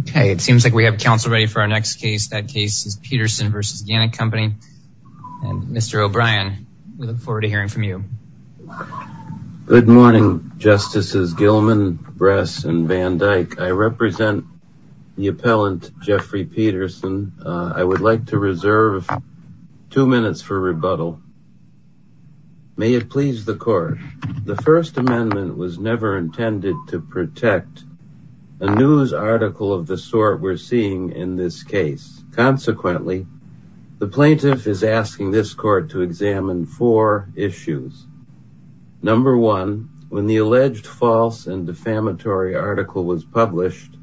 Okay it seems like we have counsel ready for our next case. That case is Peterson v. Gannett Company and Mr. O'Brien we look forward to hearing from you. Good morning Justices Gilman, Bress and Van Dyke. I represent the appellant Jeffrey Peterson. I would like to reserve two minutes for rebuttal. May it please the court. The first amendment was never intended to protect a news article of the sort we're seeing in this case. Consequently the plaintiff is asking this court to examine four issues. Number one, when the alleged false and defamatory article was published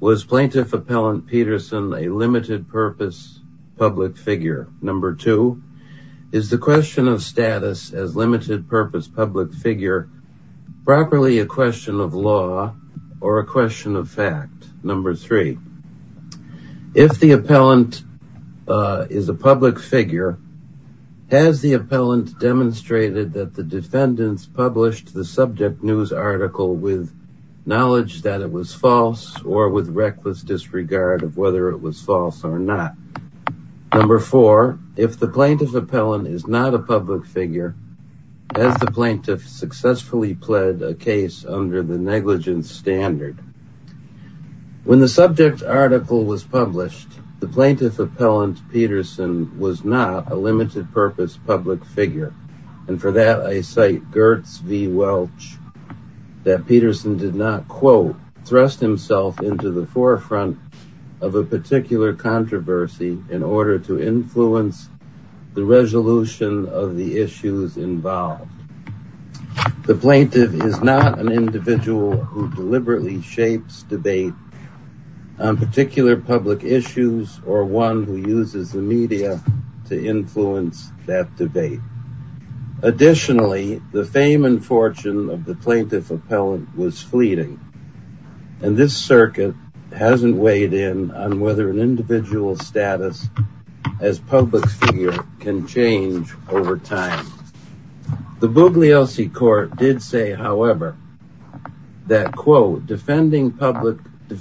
was plaintiff appellant Peterson a limited purpose public figure? Number two, is the question of or a question of fact? Number three, if the appellant is a public figure has the appellant demonstrated that the defendants published the subject news article with knowledge that it was false or with reckless disregard of whether it was false or not? Number four, if the plaintiff appellant is not a public figure has the plaintiff successfully pled a case under the negligence standard? When the subject article was published the plaintiff appellant Peterson was not a limited purpose public figure and for that I cite Gertz v Welch that Peterson did not quote thrust himself into the forefront of a particular controversy in order to influence the resolution of the issues involved. The plaintiff is not an individual who deliberately shapes debate on particular public issues or one who uses the media to influence that debate. Additionally the fame and fortune of the plaintiff appellant was fleeting and this status as public figure can change over time. The Bugliosi court did say however that quote defending public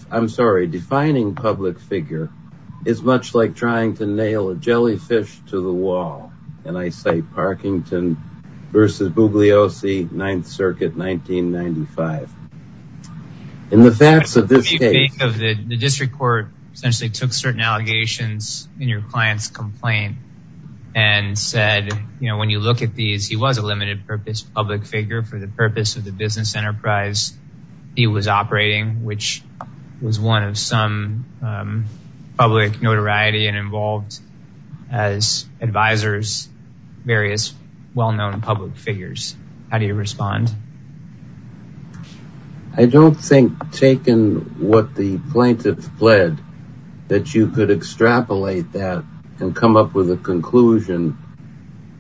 I'm sorry defining public figure is much like trying to nail a jellyfish to the wall and I say Parkington versus Bugliosi 9th circuit 1995. In the facts of this the district court essentially took certain allegations in your client's complaint and said you know when you look at these he was a limited purpose public figure for the purpose of the business enterprise he was operating which was one of some public notoriety and involved as advisors various well-known public figures. How do you respond? I don't think taken what the plaintiff pled that you could extrapolate that and come up with a conclusion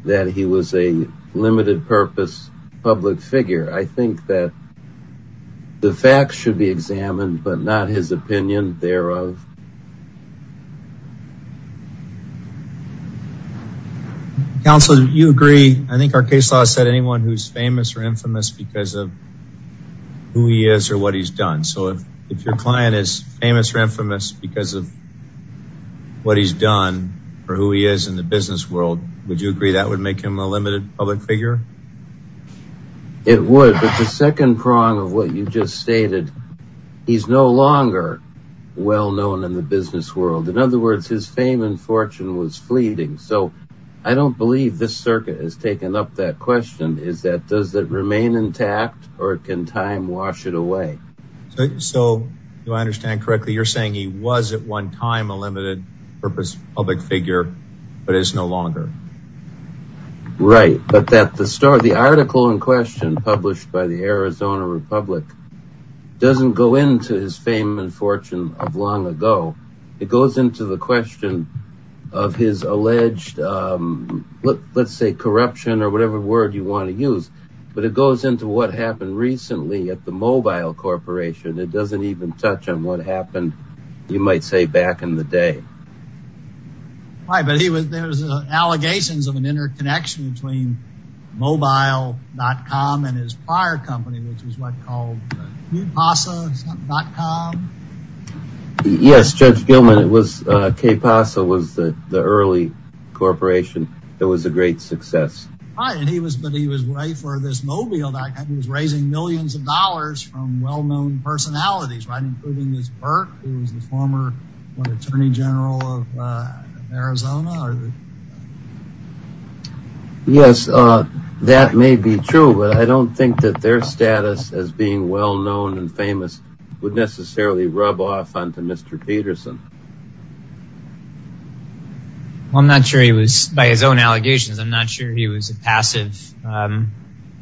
that he was a limited purpose public figure. I think that the facts should be examined but not his opinion thereof. Counselor do you agree I think our case law said anyone who's famous or infamous because of who he is or what he's done so if if your client is famous or infamous because of what he's done or who he is in the business world would you agree that would make him a limited public figure? It would but the second prong of what you just stated he's no longer well-known in the business world in other words his fame and fortune was fleeting so I don't believe this circuit has taken up that question is that does that remain intact or can time wash it away? So do I understand correctly you're saying he was at one time a limited purpose public figure but it's no longer? Right but that the store the article in question published by the Arizona Republic doesn't go into his fame and fortune of long ago it goes into the question of his alleged let's say corruption or whatever word you want to use but it goes into what happened recently at the mobile corporation it doesn't even touch on what happened you might say back in the day. Right but he was there's allegations of an interconnection between mobile.com and his prior company which was what called kpasa.com? Yes Judge Gilman it was kpasa was the early corporation that was a great success. Right and he was but he was right for this mobile that he was raising millions of dollars from well-known personalities right including this Burke who was their status as being well known and famous would necessarily rub off onto Mr. Peterson. Well I'm not sure he was by his own allegations I'm not sure he was a passive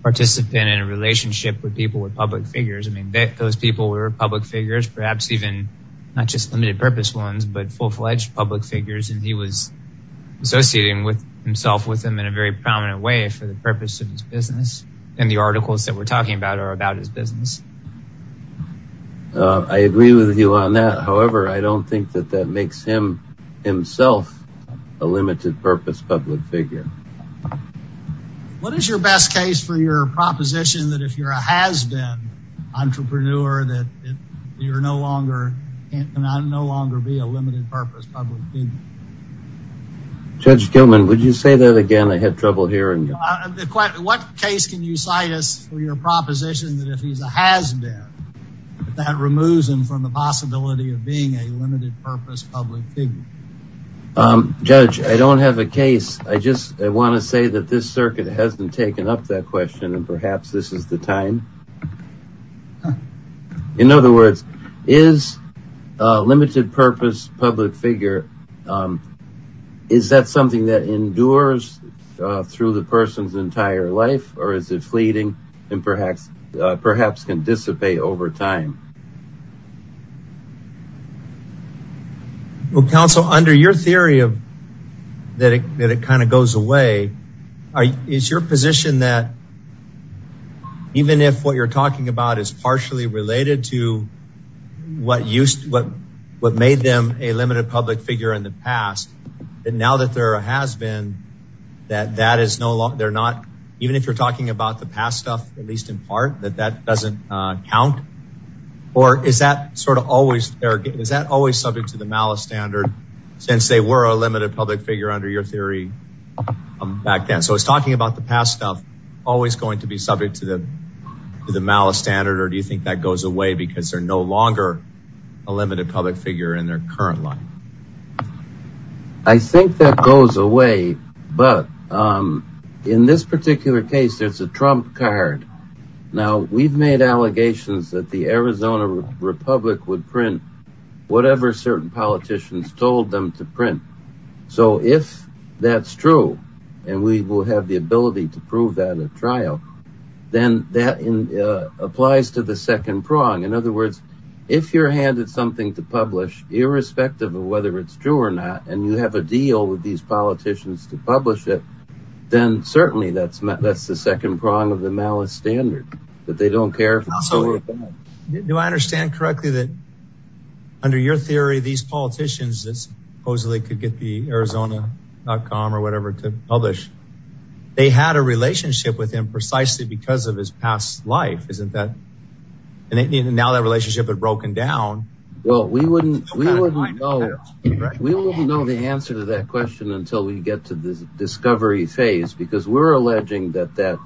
participant in a relationship with people with public figures I mean those people were public figures perhaps even not just limited purpose ones but full-fledged public figures and he was associating with himself with them in a very prominent way for the purpose of his business and the articles that we're talking about are about his business. I agree with you on that however I don't think that that makes him himself a limited purpose public figure. What is your best case for your proposition that if you're a has-been entrepreneur that you're no longer and I no longer be a limited purpose public figure? Judge Gilman would you say that again I had trouble hearing. What case can you cite us for your proposition that if he's a has-been that removes him from the possibility of being a limited purpose public figure? Judge I don't have a case I just I want to say that this circuit hasn't taken up that question and perhaps this is the time. In other words is a limited purpose public figure is that something that endures through the person's entire life or is it fleeting and perhaps can dissipate over time? Well counsel under your theory of that it kind of goes away is your position that even if what you're talking about is partially related to what used what what made them a limited public figure in the past and now that there has been that that is no longer they're not even if you're talking about the past stuff at least in part that that doesn't count or is that sort of always there is that always subject to the malice standard since they were a limited public figure under your theory back then so it's talking about the past stuff always going to be subject to the to the malice standard or do you think that goes away because they're no longer a limited public figure in their current life? I think that goes away but in this particular case there's a trump card. Now we've made allegations that the Arizona Republic would print whatever certain politicians told them to print so if that's true and we will have the ability to prove that at trial then that in applies to the second prong in other words if you're handed something to publish irrespective of whether it's true or not and you have a deal with these politicians to publish it then certainly that's that's the second prong of the malice standard that they don't care. Do I understand correctly that under your theory these politicians that supposedly could get the or whatever to publish they had a relationship with him precisely because of his past life isn't that and now that relationship had broken down well we wouldn't we wouldn't know we won't know the answer to that question until we get to the discovery phase because we're alleging that that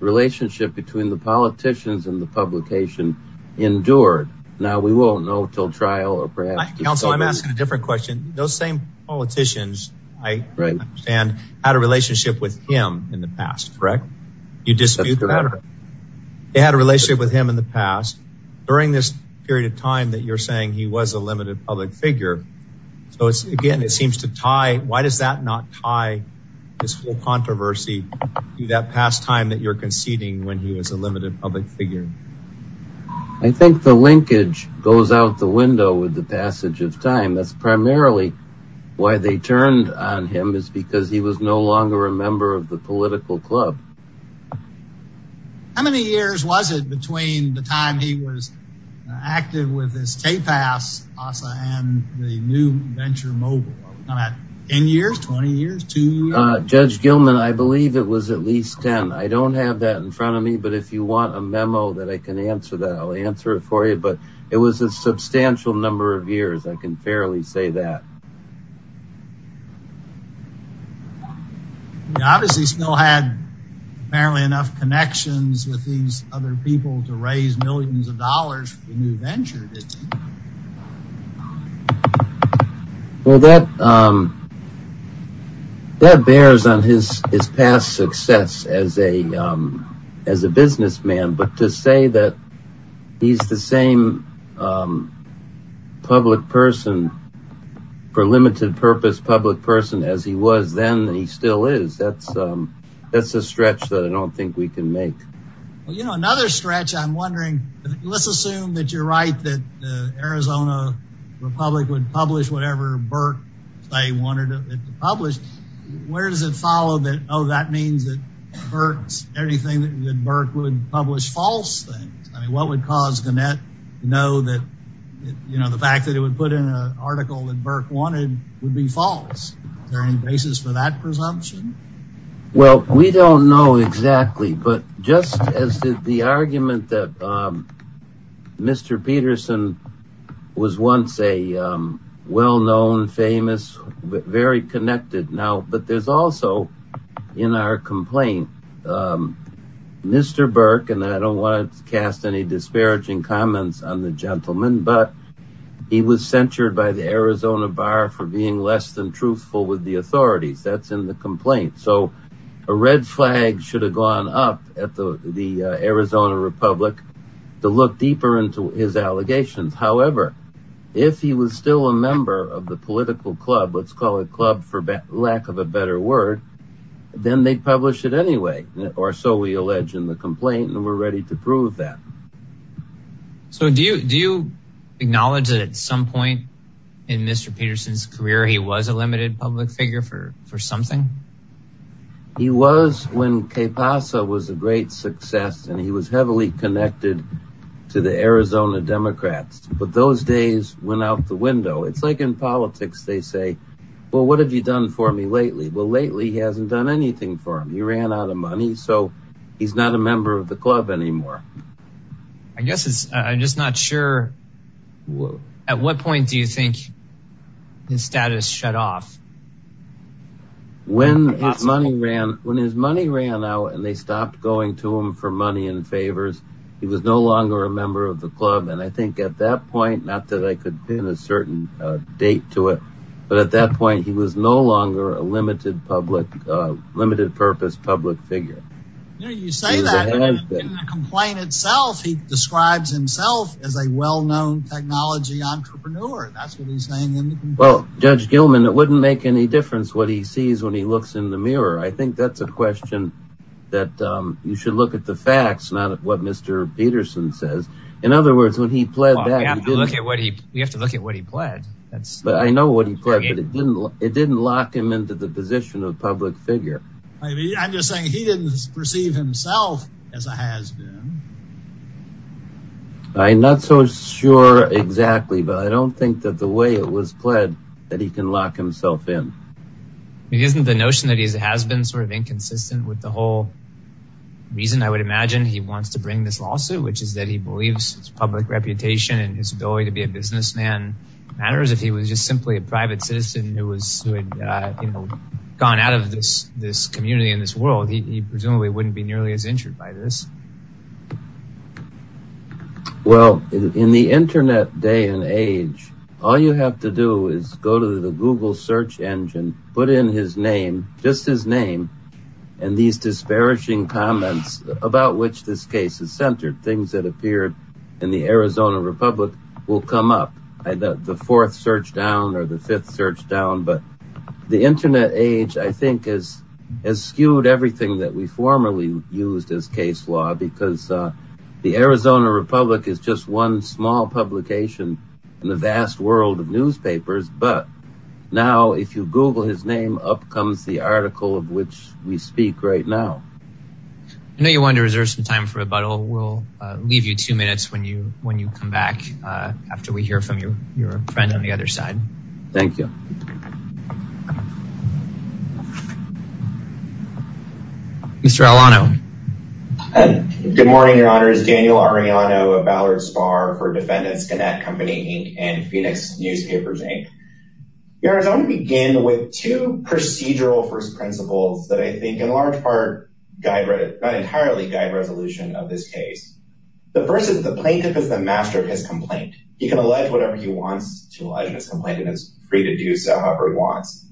relationship between the politicians and the publication endured now we won't know till trial I'm asking a different question those same politicians I understand had a relationship with him in the past correct you dispute the matter they had a relationship with him in the past during this period of time that you're saying he was a limited public figure so it's again it seems to tie why does that not tie this whole controversy to that past time that you're with the passage of time that's primarily why they turned on him is because he was no longer a member of the political club how many years was it between the time he was active with his tapas and the new venture mobile 10 years 20 years to judge gilman I believe it was at least 10 I don't have that in front of me but if you want a memo that I can answer that answer it for you but it was a substantial number of years I can fairly say that we obviously still had barely enough connections with these other people to raise millions of dollars for the new venture well that um that bears on his his past success as a um as a businessman but to say that he's the same um public person for limited purpose public person as he was then he still is that's um that's a stretch that I don't think we can make well you know another stretch I'm wondering let's assume that you're right that the Arizona Republic would publish whatever Burke they wanted to publish where does it follow that oh that means that hurts anything that Burke would publish false things I mean what would cause Gannett to know that you know the fact that it would put in an article that Burke wanted would be false is there any basis for that presumption well we don't know exactly but just as the argument that um Mr. Peterson was once a well-known famous very connected now but there's also in our complaint um Mr. Burke and I don't want to cast any disparaging comments on the gentleman but he was censured by the Arizona bar for being less than truthful with the authorities that's in the complaint so a red flag should have gone up at the the Arizona Republic to look deeper into his allegations however if he was still a member of the political club let's call it club for lack of a better word then they'd publish it anyway or so we allege in the complaint and we're ready to prove that so do you do you acknowledge that at some point in Mr. Peterson's career he was a limited public figure for for something he was when Que Pasa was a great success and he was heavily connected to the Arizona Democrats but those days went out the window it's like in politics they say well what have you done for me lately well lately he hasn't done anything for him he ran out of money so he's not a member of the club anymore I guess it's I'm just not sure at what point do you think his status shut off when his money ran when his money ran out and they stopped going to him for favors he was no longer a member of the club and I think at that point not that I could pin a certain date to it but at that point he was no longer a limited public limited purpose public figure you say that in the complaint itself he describes himself as a well-known technology entrepreneur that's what he's saying well Judge Gilman it wouldn't make any difference what he question that um you should look at the facts not what Mr. Peterson says in other words when he pled that we have to look at what he we have to look at what he pled that's but I know what he pled but it didn't it didn't lock him into the position of public figure I mean I'm just saying he didn't perceive himself as a has-been I'm not so sure exactly but I don't think that the way it was pled that he can lock himself in it isn't the notion that he has been sort of inconsistent with the whole reason I would imagine he wants to bring this lawsuit which is that he believes his public reputation and his ability to be a businessman matters if he was just simply a private citizen who was who had you know gone out of this this community in this world he presumably wouldn't be nearly as injured by this well in the internet day and age all you have to is go to the google search engine put in his name just his name and these disparaging comments about which this case is centered things that appeared in the Arizona Republic will come up I thought the fourth search down or the fifth search down but the internet age I think is as skewed everything that we formerly used as case law because the Arizona Republic is just one small publication in the vast world of newspapers but now if you google his name up comes the article of which we speak right now I know you wanted to reserve some time for rebuttal we'll leave you two minutes when you when you come back after we hear from your friend on the other for defendants connect company inc and phoenix newspapers inc Arizona begin with two procedural first principles that I think in large part guide not entirely guide resolution of this case the first is the plaintiff is the master of his complaint he can allege whatever he wants to allege his complaint and it's free to do so however he wants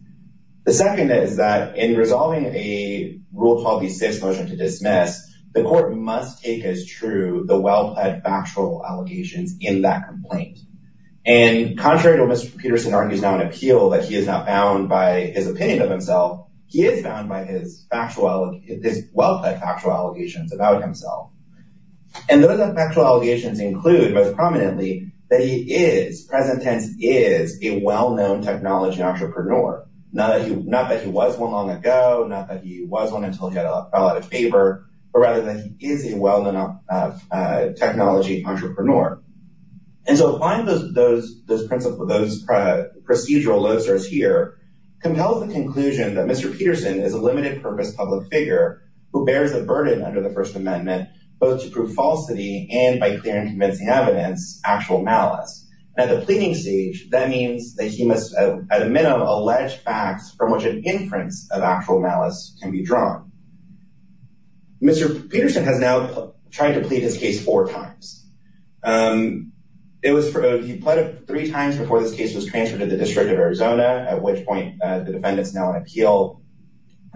the second is that in resolving a rule 12b6 motion to dismiss the court must take as true the well-plaid factual allegations in that complaint and contrary to Mr. Peterson argues now an appeal that he is not bound by his opinion of himself he is bound by his factual his well-plaid factual allegations about himself and those factual allegations include most prominently that he is present tense is a technology entrepreneur not that he not that he was one long ago not that he was one until he had a lot of paper but rather than he is a well-known technology entrepreneur and so applying those those those principles those procedural losers here compels the conclusion that Mr. Peterson is a limited purpose public figure who bears a burden under the first amendment both to prove falsity and by clear and convincing evidence actual malice at the pleading stage that means that he must at a minimum allege facts from which an inference of actual malice can be drawn Mr. Peterson has now tried to plead his case four times um it was for he pleaded three times before this case was transferred to the district of Arizona at which point the defendant's now an appeal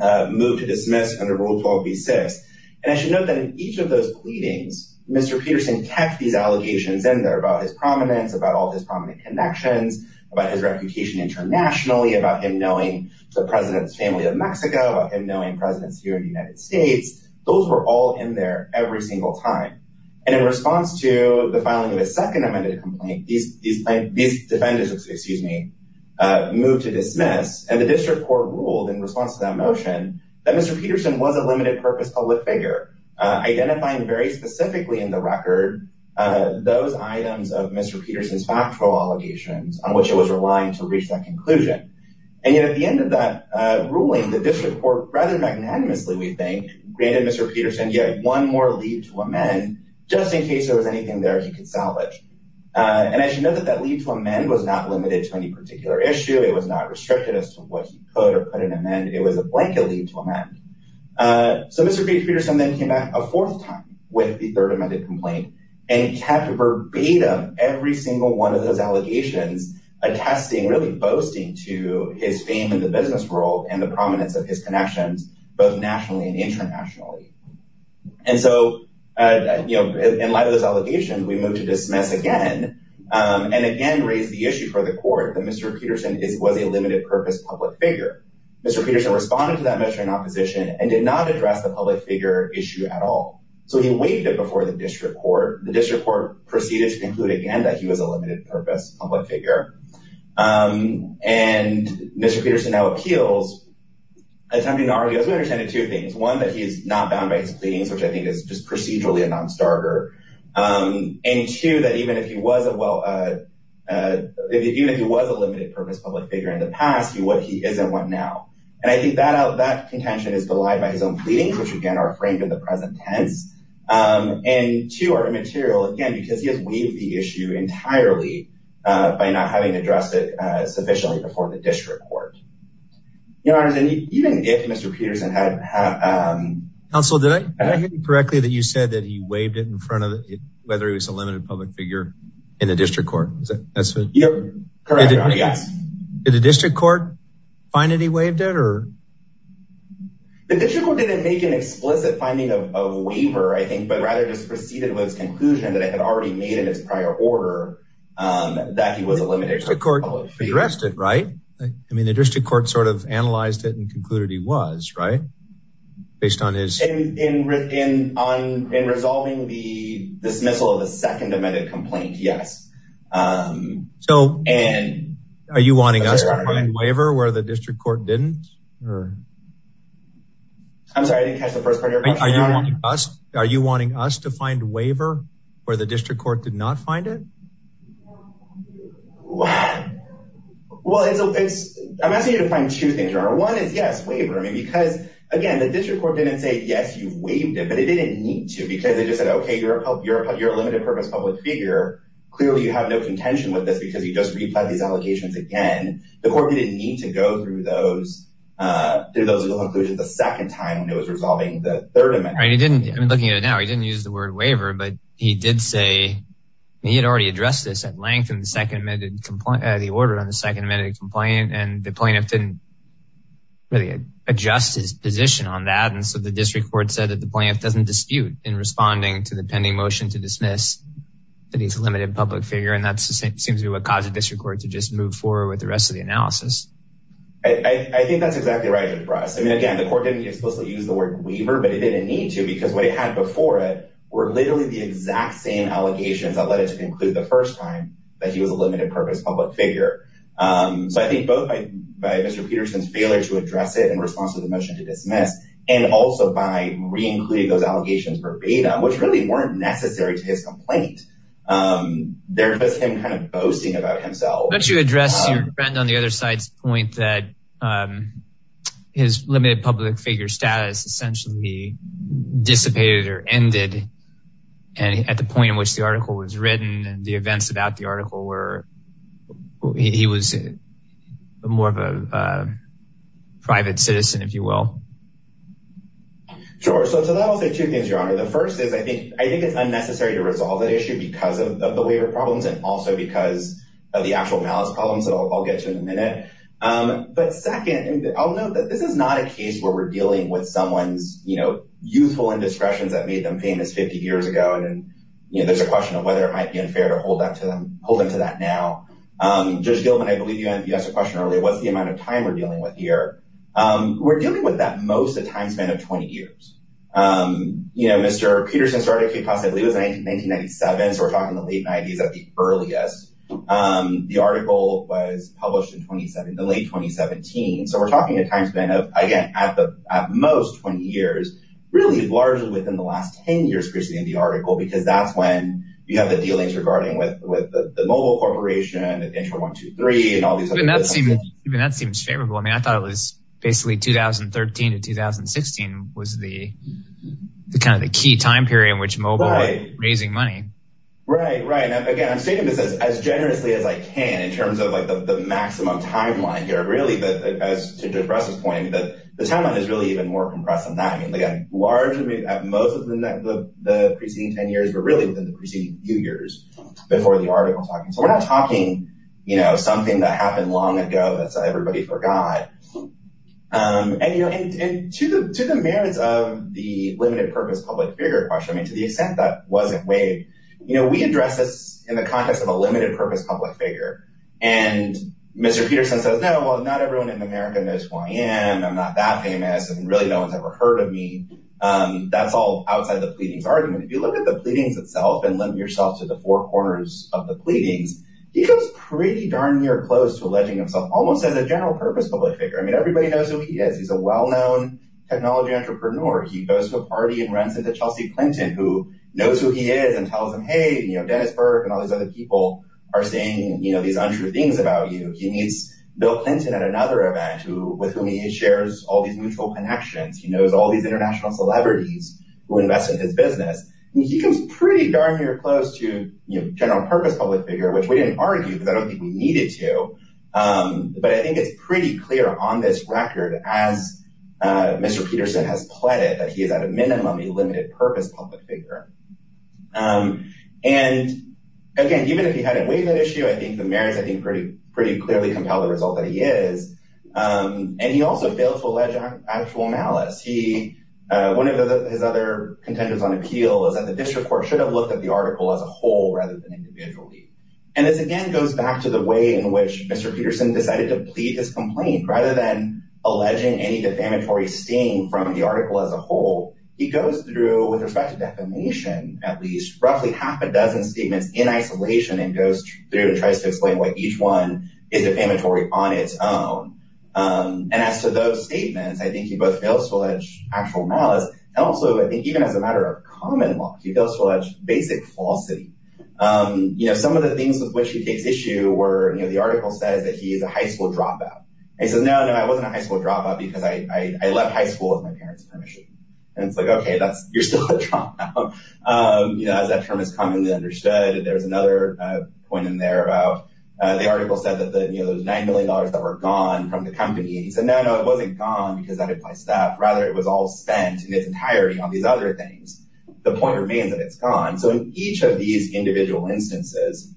uh moved to dismiss under rule 12b6 and I should note that in each of those pleadings Mr. Peterson kept these allegations in there about his prominence about all his prominent connections about his reputation internationally about him knowing the president's family of Mexico about him knowing presidents here in the United States those were all in there every single time and in response to the filing of a second amended complaint these these these defendants excuse me uh moved to dismiss and the district court ruled in response to that motion that Mr. Peterson was a limited purpose public figure uh identifying very specifically in the which it was relying to reach that conclusion and yet at the end of that uh ruling the district court rather magnanimously we think granted Mr. Peterson yet one more leave to amend just in case there was anything there he could salvage uh and as you know that that leave to amend was not limited to any particular issue it was not restricted as to what he could or put an amend it was a blanket leave to amend uh so Mr. Peterson then came back a fourth time with the third amended complaint and kept verbatim every single one of those allegations attesting really boasting to his fame in the business world and the prominence of his connections both nationally and internationally and so uh you know in light of those allegations we move to dismiss again and again raise the issue for the court that Mr. Peterson is was a limited purpose public figure Mr. Peterson responded to that measure in opposition and did not address the public figure issue at all so he waived it before the district court the district court proceeded to conclude again that he was a limited purpose public figure um and Mr. Peterson now appeals attempting to argue as we understand it two things one that he's not bound by his pleadings which i think is just procedurally a non-starter um and two that even if he wasn't well uh even if he was a limited purpose public figure in the past what he is and what now and i think that out that contention is belied by his own pleadings which again are framed in the present tense um and two are immaterial again because he has waived the issue entirely uh by not having addressed it uh sufficiently before the district court your honors and even if Mr. Peterson had um counsel did i did i hear you correctly that you said that he waived it in front of it whether he was a limited public figure in the district court is that that's correct yes did the district court find that he waived it or the district court didn't make an explicit finding of a waiver i think but rather just proceeded with its conclusion that it had already made in its prior order um that he was a limited court addressed it right i mean the district court sort of analyzed it and concluded he was right based on his in in in on in resolving the dismissal of the second amended complaint yes um so and are you wanting us to find waiver where the district court didn't or i'm sorry i didn't catch the first part of your question are you wanting us to find waiver where the district court did not find it well it's i'm asking you to find two things your honor one is yes waiver i mean because again the district court didn't say yes you've waived it but it didn't need to because it just said okay you're a you're a limited purpose public figure clearly you have no contention with this because you just replied these allocations again the court didn't need to go through those uh through those conclusions the second time when it was resolving the third amendment right he didn't i mean looking at it now he didn't use the word waiver but he did say he had already addressed this at length in the second amended complaint the order on the second amended complaint and the plaintiff didn't really adjust his position on that and so the district court said that the plaintiff doesn't dispute in responding to the pending motion to dismiss that he's a limited public figure and that seems to be what caused the district court to just move forward with the rest of the analysis i i think that's exactly right for us i mean again the court didn't explicitly use the word weaver but it didn't need to because what it had before it were literally the exact same allegations that led it to conclude the first time that he was a limited purpose public figure um so i think both by mr peterson's failure to address it in response to the motion to dismiss and also by re-including those allegations verbatim which really weren't necessary to his complaint um there was him kind of boasting about himself don't you address your friend on the other side's point that um his limited public figure status essentially dissipated or ended and at the point in which the article was written and the events about the well sure so that was the two things your honor the first is i think i think it's unnecessary to resolve the issue because of the waiver problems and also because of the actual malice problems that i'll get to in a minute um but second i'll note that this is not a case where we're dealing with someone's you know youthful indiscretions that made them famous 50 years ago and then you know there's a question of whether it might be unfair to hold that to them hold them to that now um judge gilman i believe you answered the question earlier what's the amount of time we're dealing with that most the time span of 20 years um you know mr peterson started k-pop i believe it was 1997 so we're talking the late 90s at the earliest um the article was published in 2017 the late 2017 so we're talking a time span of again at the at most 20 years really largely within the last 10 years previously in the article because that's when you have the dealings regarding with with the mobile corporation and intro one two three and all these and that seemed even that seems favorable i mean i thought it was basically 2013 to 2016 was the kind of the key time period in which mobile raising money right right now again i'm stating this as generously as i can in terms of like the maximum timeline here really but as to press this point that the timeline is really even more compressed than that i mean again largely at most of the the preceding 10 years but really within the preceding few years before the article talking so we're not talking you know something that happened long ago that's everybody forgot um and you know and and to the merits of the limited purpose public figure question i mean to the extent that wasn't waived you know we address this in the context of a limited purpose public figure and mr peterson says no well not everyone in america knows who i am i'm not that famous and really no one's ever heard of me um that's all outside the pleadings argument if you look at the pleadings itself and limit yourself to the four corners of the pleadings he comes pretty darn near close to alleging himself almost as a general purpose public figure i mean everybody knows who he is he's a well-known technology entrepreneur he goes to a party and runs into chelsea clinton who knows who he is and tells him hey you know dennis burke and all these other people are saying you know these untrue things about you he meets bill clinton at another event who with whom he shares all these mutual connections he knows all these international celebrities who invest in his business he comes pretty darn near close to you know general purpose public figure which we didn't argue because i don't think we needed to um but i think it's pretty clear on this record as uh mr peterson has pledged that he is at a minimum a limited purpose public figure um and again even if he hadn't waived that issue i think the merits i think pretty pretty clearly compel the result that he is um and he also failed to one of his other contenders on appeal is that the district court should have looked at the article as a whole rather than individually and this again goes back to the way in which mr peterson decided to plead his complaint rather than alleging any defamatory sting from the article as a whole he goes through with respect to defamation at least roughly half a dozen statements in isolation and goes through and tries to explain why each one is defamatory on its own um and as to those and also i think even as a matter of common law he goes for that basic falsity um you know some of the things with which he takes issue were you know the article says that he is a high school dropout he says no no i wasn't a high school dropout because i i left high school with my parents permission and it's like okay that's you're still a dropout um you know as that term is commonly understood there's another uh point in there about uh the article said that the you know those nine million dollars that were gone from the company he said no no it wasn't gone rather it was all spent in its entirety on these other things the point remains that it's gone so in each of these individual instances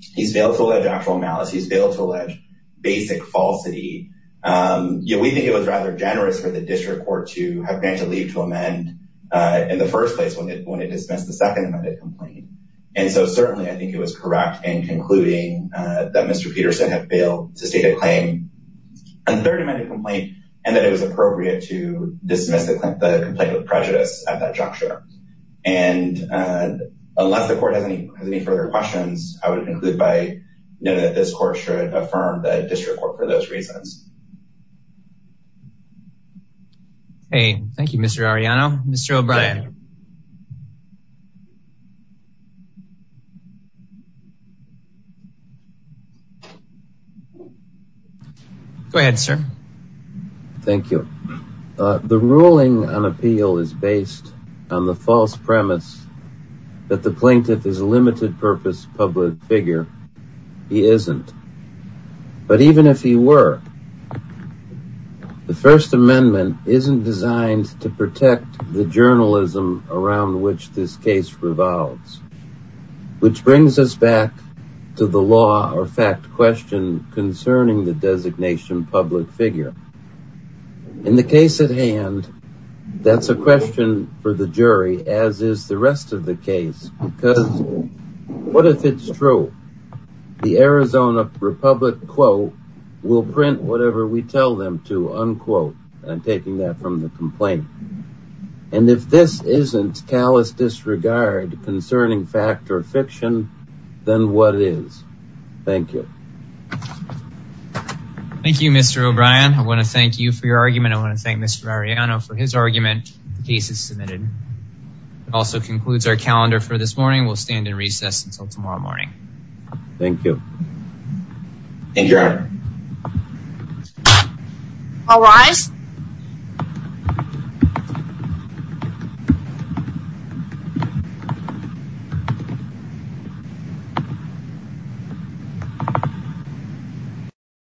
he's failed to allege actual malice he's failed to allege basic falsity um you know we think it was rather generous for the district court to have been to leave to amend uh in the first place when it when it dismissed the second amended complaint and so certainly i think it was correct in concluding uh that mr peterson had failed to claim a third amended complaint and that it was appropriate to dismiss the complaint of prejudice at that juncture and uh unless the court has any has any further questions i would conclude by knowing that this court should affirm the district court for those reasons hey thank you mr arellano mr o'brien go ahead sir thank you uh the ruling on appeal is based on the false premise that the plaintiff is a limited purpose public figure he isn't but even if he were the first amendment isn't designed to protect the journalism around which this case revolves which brings us back to the law or fact question concerning the designation public figure in the case at hand that's a question for the jury as is the rest of the case because what if it's true the arizona republic quote will print whatever we tell them to unquote i'm taking that from the complaint and if this isn't callous disregard concerning fact or fiction then what it is thank you thank you mr o'brien i want to thank you for your argument i want to thank mr arellano for his argument the case is submitted it also concludes our calendar for this morning we'll stand in recess until tomorrow morning thank you thank you thank you too all rise